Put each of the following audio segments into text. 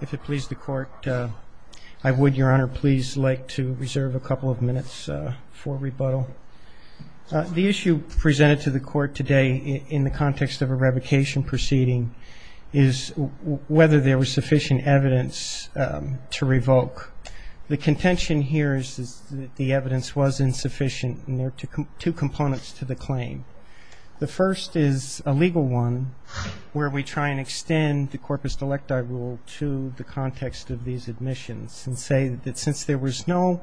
If it pleases the Court, I would, Your Honor, please like to reserve a couple of minutes for rebuttal. The issue presented to the Court today in the context of a revocation proceeding is whether there was sufficient evidence to revoke. The contention here is that the evidence was insufficient, and there are two components to the claim. The first is a legal one, where we try and extend the corpus delecti rule to the context of these admissions, and say that since there was no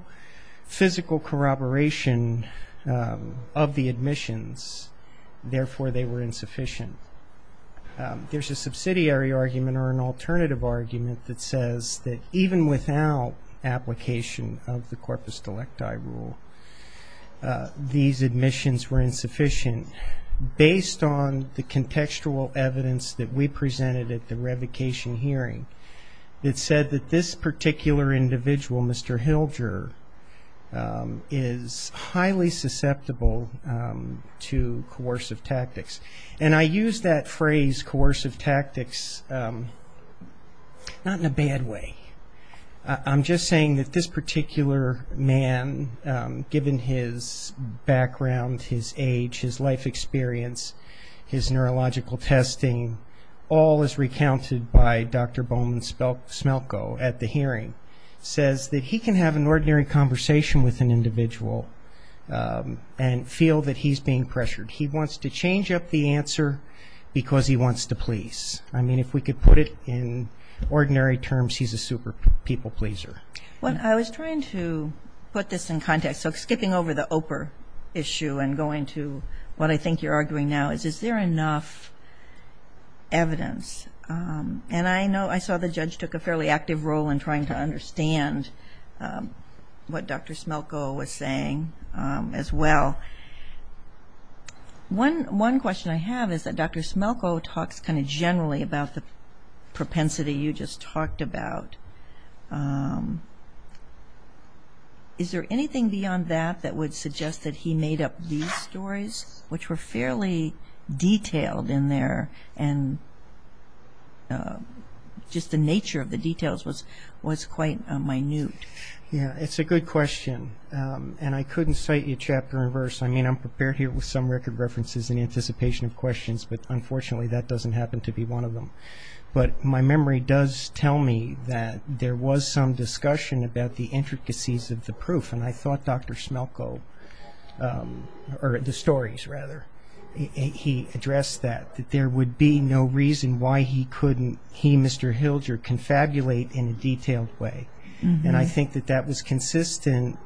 physical corroboration of the admissions, therefore they were insufficient. There's a subsidiary argument or an alternative argument that says that even without application of the corpus delecti rule, these admissions were insufficient based on the contextual evidence that we presented at the revocation hearing that said that this particular individual, Mr. Hilger, is highly susceptible to coercive tactics. And I use that phrase, coercive tactics, not in a bad way. I'm just saying that this particular man, given his background, his age, his life experience, his neurological testing, all is recounted by Dr. Bowman Smelko at the hearing, says that he can have an ordinary conversation with an individual and feel that he's being pressured. He wants to change up the answer because he wants to please. I mean, if we could put it in ordinary terms, he's a super people pleaser. Well, I was trying to put this in context. So skipping over the OPR issue and going to what I think you're arguing now is, is there enough evidence? And I saw the judge took a fairly active role in trying to understand what Dr. Smelko was saying as well. One question I have is that Dr. Smelko talks kind of generally about the propensity you just talked about. Is there anything beyond that that would suggest that he made up these stories, which were fairly detailed in there and just the nature of the details was quite minute? Yeah, it's a good question. And I couldn't cite you chapter and verse. I mean, I'm prepared here with some record references in anticipation of questions, but unfortunately that doesn't happen to be one of them. But my memory does tell me that there was some discussion about the intricacies of the proof. And I thought Dr. Smelko, or the stories rather, he addressed that, that there would be no reason why he couldn't, he, Mr. Hilger, confabulate in a detailed way. And I think that that was consistent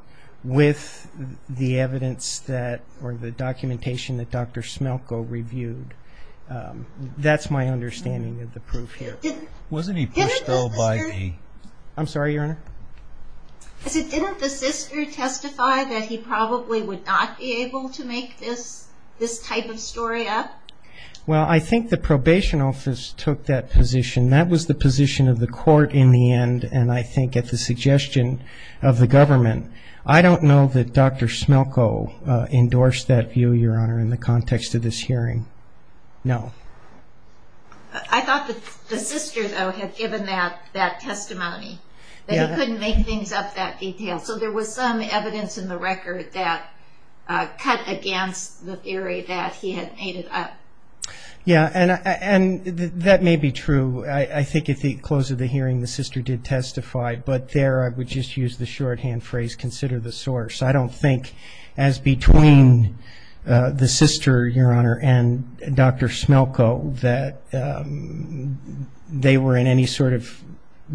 with the evidence that, or the documentation that Dr. Smelko reviewed. That's my understanding of the proof here. Wasn't he pushed over by the... I'm sorry, Your Honor? I said, didn't the sister testify that he probably would not be able to make this type of story up? Well, I think the probation office took that position. That was the position of the court in the end, and I think at the suggestion of the government. I don't know that Dr. Smelko endorsed that view, Your Honor, in the context of this hearing. No. I thought that the sister, though, had given that testimony, that he couldn't make things up that detailed. So there was some evidence in the record that cut against the theory that he had made it up. Yeah, and that may be true. I think at the close of the hearing the sister did testify, but there I would just use the shorthand phrase, consider the source. I don't think, as between the sister, Your Honor, and Dr. Smelko, that they were in any sort of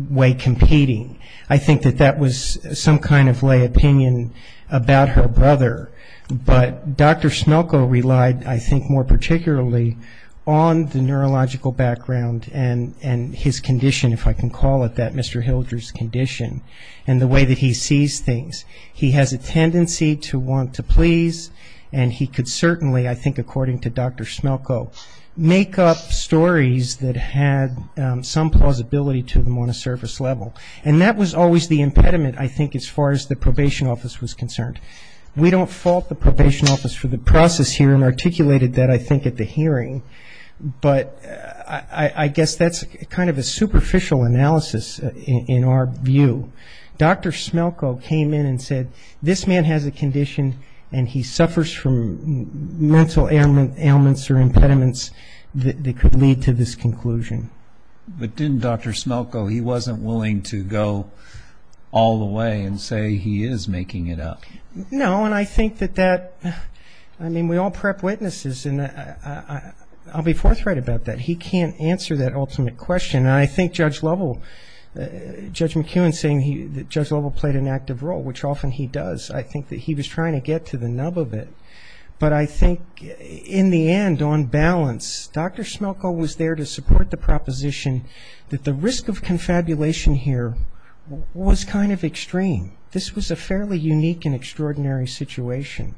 way competing. I think that that was some kind of lay opinion about her brother. But Dr. Smelko relied, I think, more particularly on the neurological background and his condition, if I can call it that, Mr. Hildreth's condition, and the way that he sees things. He has a tendency to want to please, and he could certainly, I think according to Dr. Smelko, make up stories that had some plausibility to them on a surface level. And that was always the impediment, I think, as far as the probation office was concerned. We don't fault the probation office for the process here and articulated that, I think, at the hearing. But I guess that's kind of a superficial analysis in our view. Dr. Smelko came in and said, this man has a condition and he suffers from mental ailments or impediments that could lead to this conclusion. But didn't Dr. Smelko, he wasn't willing to go all the way and say he is making it up? No, and I think that that, I mean, we all prep witnesses, and I'll be forthright about that. He can't answer that ultimate question. And I think Judge McEwen saying that Judge Lovell played an active role, which often he does, I think that he was trying to get to the nub of it. But I think, in the end, on balance, Dr. Smelko was there to support the proposition that the risk of confabulation here was kind of extreme. This was a fairly unique and extraordinary situation.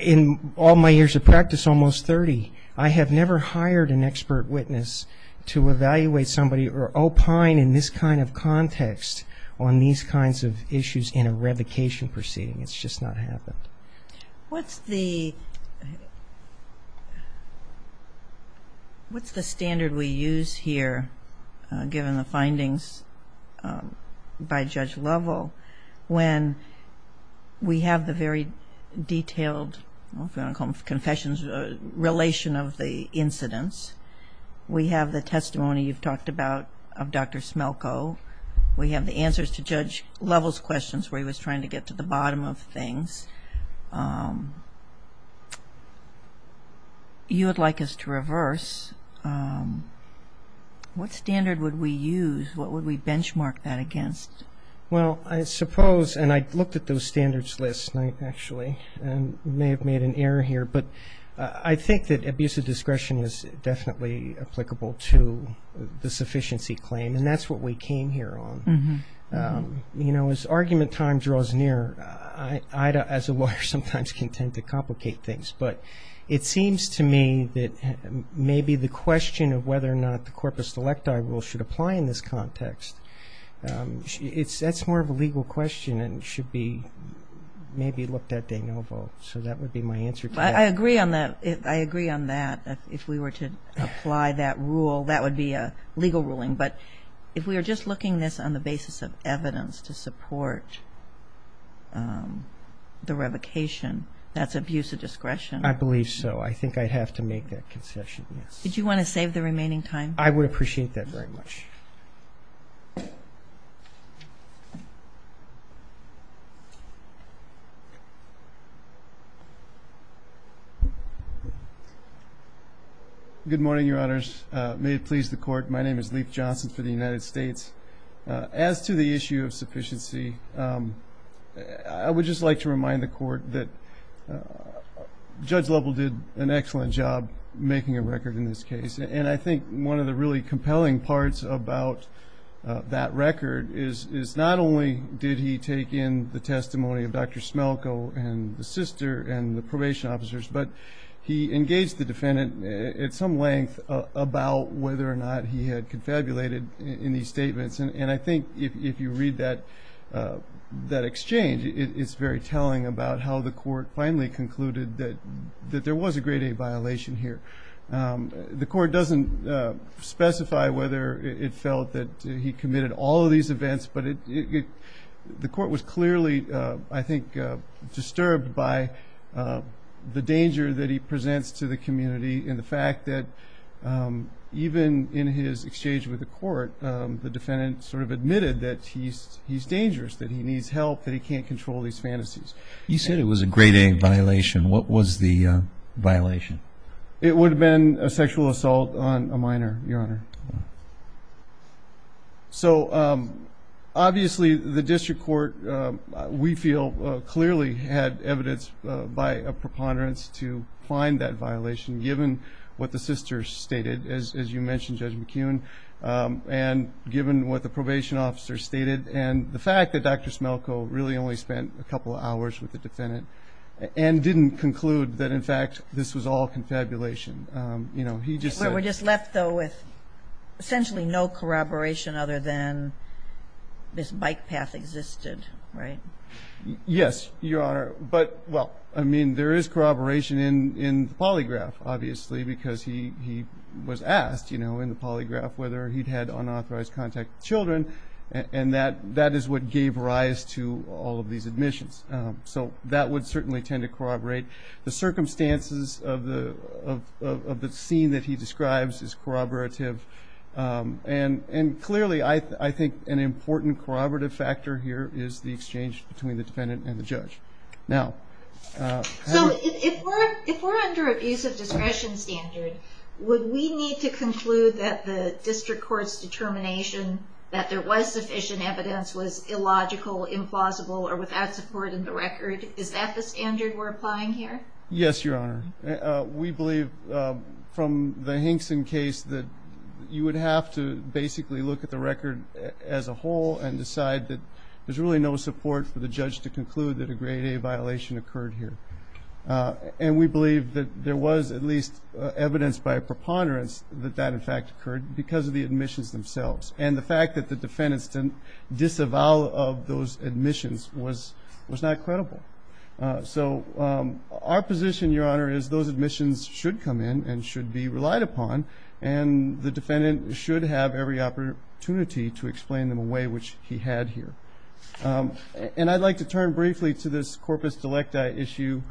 In all my years of practice, almost 30, I have never hired an expert witness to evaluate somebody or opine in this kind of context on these kinds of issues in a revocation proceeding. It's just not happened. What's the standard we use here, given the findings by Judge Lovell, when we have the very detailed, I don't know if you want to call them confessions, relation of the incidents, we have the testimony you've talked about of Dr. Smelko, we have the answers to Judge Lovell's questions where he was trying to get to the bottom of things. You would like us to reverse. What standard would we use? What would we benchmark that against? Well, I suppose, and I looked at those standards last night, actually, and may have made an error here, but I think that abusive discretion is definitely applicable to the sufficiency claim, and that's what we came here on. As argument time draws near, I, as a lawyer, sometimes can tend to complicate things, but it seems to me that maybe the question of whether or not the corpus electi rule should apply in this context, that's more of a legal question and should be maybe looked at de novo. So that would be my answer to that. I agree on that, if we were to apply that rule, that would be a legal ruling. But if we are just looking at this on the basis of evidence to support the revocation, that's abusive discretion. I believe so. I think I'd have to make that concession, yes. Did you want to save the remaining time? I would appreciate that very much. May it please the Court. My name is Leif Johnson for the United States. As to the issue of sufficiency, I would just like to remind the Court that Judge Lovell did an excellent job making a record in this case, and I think one of the really compelling parts about that record is not only did he take in the testimony of Dr. Smelko and the sister and the probation officers, but he engaged the defendant at some length about whether or not he had confabulated in these statements, and I think if you read that exchange, it's very telling about how the Court finally concluded that there was a grade A violation here. The Court doesn't specify whether it felt that he committed all of these events, but the Court was clearly, I think, disturbed by the danger that he presents to the community and the fact that even in his exchange with the Court, the defendant sort of admitted that he's dangerous, that he needs help, that he can't control these fantasies. You said it was a grade A violation. What was the violation? It would have been a sexual assault on a minor, Your Honor. So obviously the District Court, we feel, clearly had evidence by a preponderance to find that violation, given what the sisters stated, as you mentioned, Judge McKeown, and given what the probation officers stated, and the fact that Dr. Smelko really only spent a couple of hours with the defendant and didn't conclude that, in fact, this was all confabulation. We're just left, though, with essentially no corroboration other than this bike path existed, right? Yes, Your Honor. But, well, I mean, there is corroboration in the polygraph, obviously, because he was asked in the polygraph whether he'd had unauthorized contact with children, and that is what gave rise to all of these admissions. So that would certainly tend to corroborate. The circumstances of the scene that he describes is corroborative, and clearly I think an important corroborative factor here is the exchange between the defendant and the judge. So if we're under abusive discretion standard, would we need to conclude that the District Court's determination that there was sufficient evidence was illogical, implausible, or without support in the record? Is that the standard we're applying here? Yes, Your Honor. We believe from the Hinkson case that you would have to basically look at the record as a whole and decide that there's really no support for the judge to conclude that a Grade A violation occurred here. And we believe that there was at least evidence by preponderance that that, in fact, occurred because of the admissions themselves. And the fact that the defendants didn't disavow of those admissions was not credible. So our position, Your Honor, is those admissions should come in and should be relied upon, and the defendant should have every opportunity to explain them in a way which he had here. And I'd like to turn briefly to this corpus delecta issue.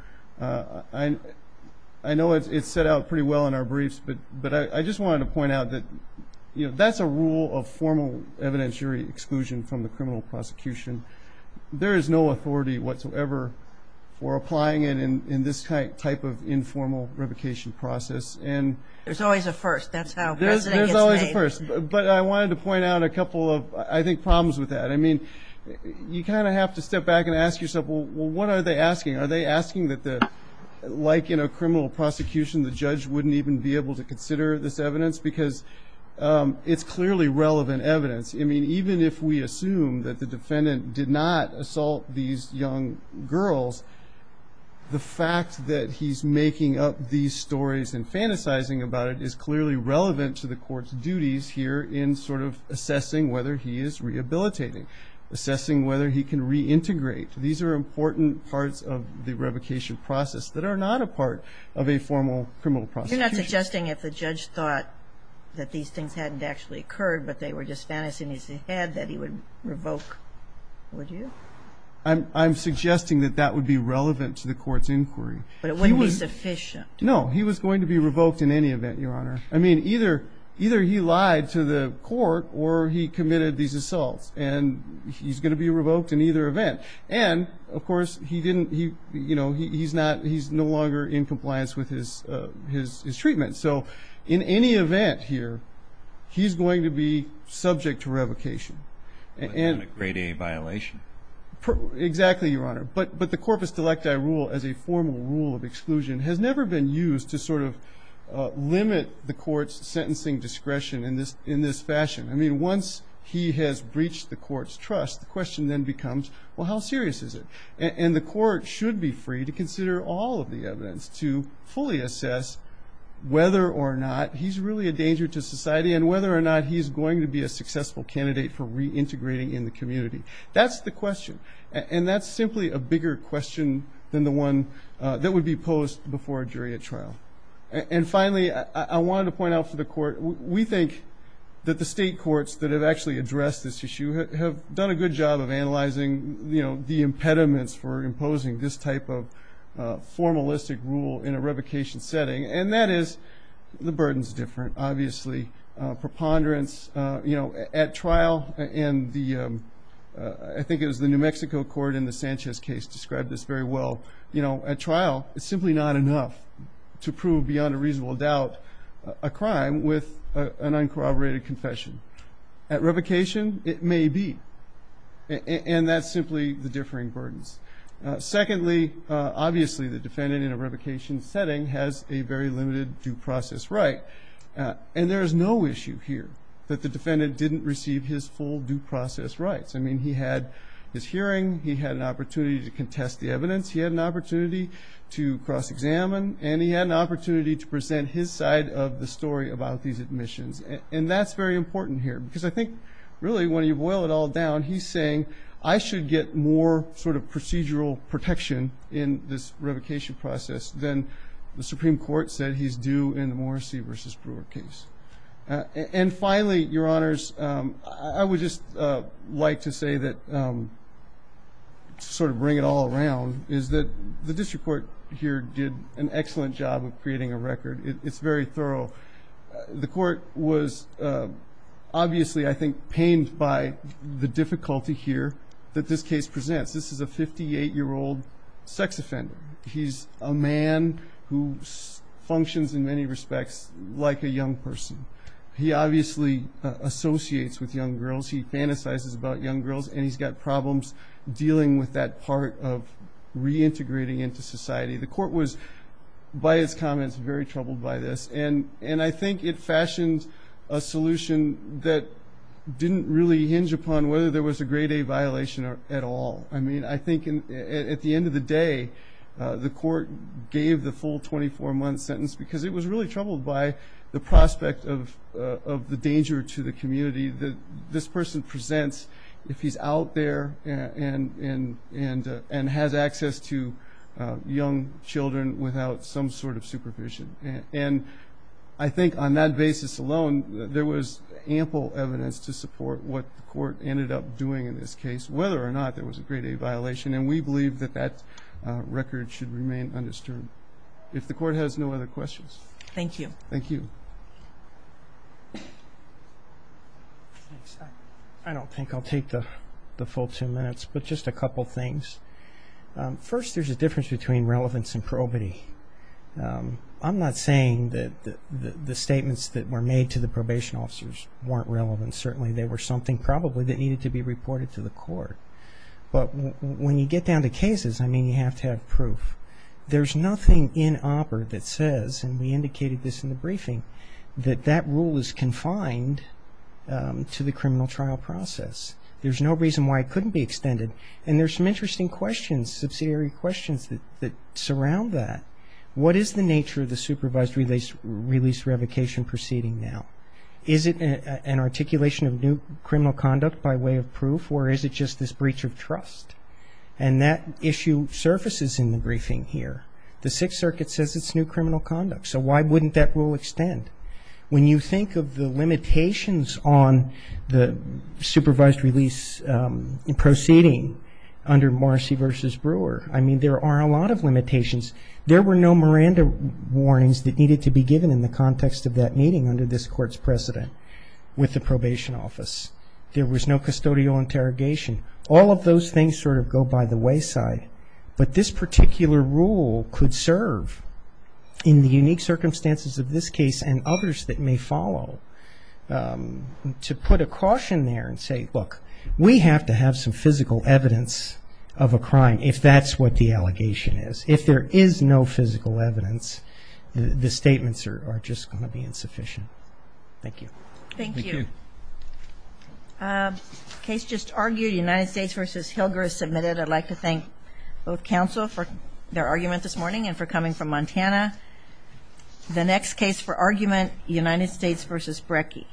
I know it's set out pretty well in our briefs, but I just wanted to point out that that's a rule of formal evidentiary exclusion from the criminal prosecution. There is no authority whatsoever for applying it in this type of informal revocation process. There's always a first. That's how precedent gets made. There's always a first. But I wanted to point out a couple of, I think, problems with that. I mean, you kind of have to step back and ask yourself, well, what are they asking? Are they asking that, like in a criminal prosecution, the judge wouldn't even be able to consider this evidence? Because it's clearly relevant evidence. I mean, even if we assume that the defendant did not assault these young girls, the fact that he's making up these stories and fantasizing about it is clearly relevant to the court's duties here in sort of assessing whether he is rehabilitating, assessing whether he can reintegrate. These are important parts of the revocation process that are not a part of a formal criminal prosecution. You're not suggesting if the judge thought that these things hadn't actually occurred, but they were just fantasies in his head that he would revoke, would you? I'm suggesting that that would be relevant to the court's inquiry. But it wouldn't be sufficient. No. He was going to be revoked in any event, Your Honor. I mean, either he lied to the court or he committed these assaults, and he's going to be revoked in either event. And, of course, he's no longer in compliance with his treatment. So in any event here, he's going to be subject to revocation. But not a Grade A violation. Exactly, Your Honor. But the corpus delecti rule as a formal rule of exclusion has never been used to sort of limit the court's sentencing discretion in this fashion. I mean, once he has breached the court's trust, the question then becomes, well, how serious is it? And the court should be free to consider all of the evidence to fully assess whether or not he's really a danger to society and whether or not he's going to be a successful candidate for reintegrating in the community. That's the question. And that's simply a bigger question than the one that would be posed before a jury at trial. And finally, I wanted to point out for the court, we think that the state courts that have actually addressed this issue have done a good job of analyzing the impediments for imposing this type of formalistic rule in a revocation setting, and that is the burden's different, obviously. Preponderance at trial, and I think it was the New Mexico court in the Sanchez case described this very well. You know, at trial, it's simply not enough to prove beyond a reasonable doubt a crime with an uncorroborated confession. At revocation, it may be, and that's simply the differing burdens. Secondly, obviously, the defendant in a revocation setting has a very limited due process right, and there is no issue here that the defendant didn't receive his full due process rights. I mean, he had his hearing. He had an opportunity to contest the evidence. He had an opportunity to cross-examine, and he had an opportunity to present his side of the story about these admissions, and that's very important here because I think really when you boil it all down, he's saying I should get more sort of procedural protection in this revocation process than the Supreme Court said he's due in the Morrissey v. Brewer case. And finally, Your Honors, I would just like to say that to sort of bring it all around, is that the district court here did an excellent job of creating a record. It's very thorough. The court was obviously, I think, pained by the difficulty here that this case presents. This is a 58-year-old sex offender. He's a man who functions in many respects like a young person. He obviously associates with young girls. He fantasizes about young girls, and he's got problems dealing with that part of reintegrating into society. The court was, by its comments, very troubled by this, and I think it fashioned a solution that didn't really hinge upon whether there was a Grade A violation at all. I mean, I think at the end of the day, the court gave the full 24-month sentence because it was really troubled by the prospect of the danger to the community that this person presents if he's out there and has access to young children without some sort of supervision. And I think on that basis alone, there was ample evidence to support what the court ended up doing in this case, whether or not there was a Grade A violation, and we believe that that record should remain undisturbed. If the court has no other questions. Thank you. Thank you. I don't think I'll take the full two minutes, but just a couple things. First, there's a difference between relevance and probity. I'm not saying that the statements that were made to the probation officers weren't relevant. Certainly, they were something probably that needed to be reported to the court. But when you get down to cases, I mean, you have to have proof. There's nothing in OPER that says, and we indicated this in the briefing, that that rule is confined to the criminal trial process. There's no reason why it couldn't be extended. And there's some interesting questions, subsidiary questions, that surround that. What is the nature of the supervised release revocation proceeding now? Is it an articulation of new criminal conduct by way of proof, or is it just this breach of trust? And that issue surfaces in the briefing here. The Sixth Circuit says it's new criminal conduct, so why wouldn't that rule extend? When you think of the limitations on the supervised release proceeding under Morrissey v. Brewer, there were no Miranda warnings that needed to be given in the context of that meeting under this Court's precedent with the probation office. There was no custodial interrogation. All of those things sort of go by the wayside. But this particular rule could serve, in the unique circumstances of this case and others that may follow, to put a caution there and say, look, we have to have some physical evidence of a crime if that's what the allegation is. If there is no physical evidence, the statements are just going to be insufficient. Thank you. Thank you. The case just argued, United States v. Hilger, is submitted. I'd like to thank both counsel for their argument this morning and for coming from Montana. The next case for argument, United States v. Brecke.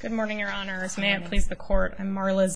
Good morning, Your Honors. Good morning. May it please the Court, I'm Marla Zell.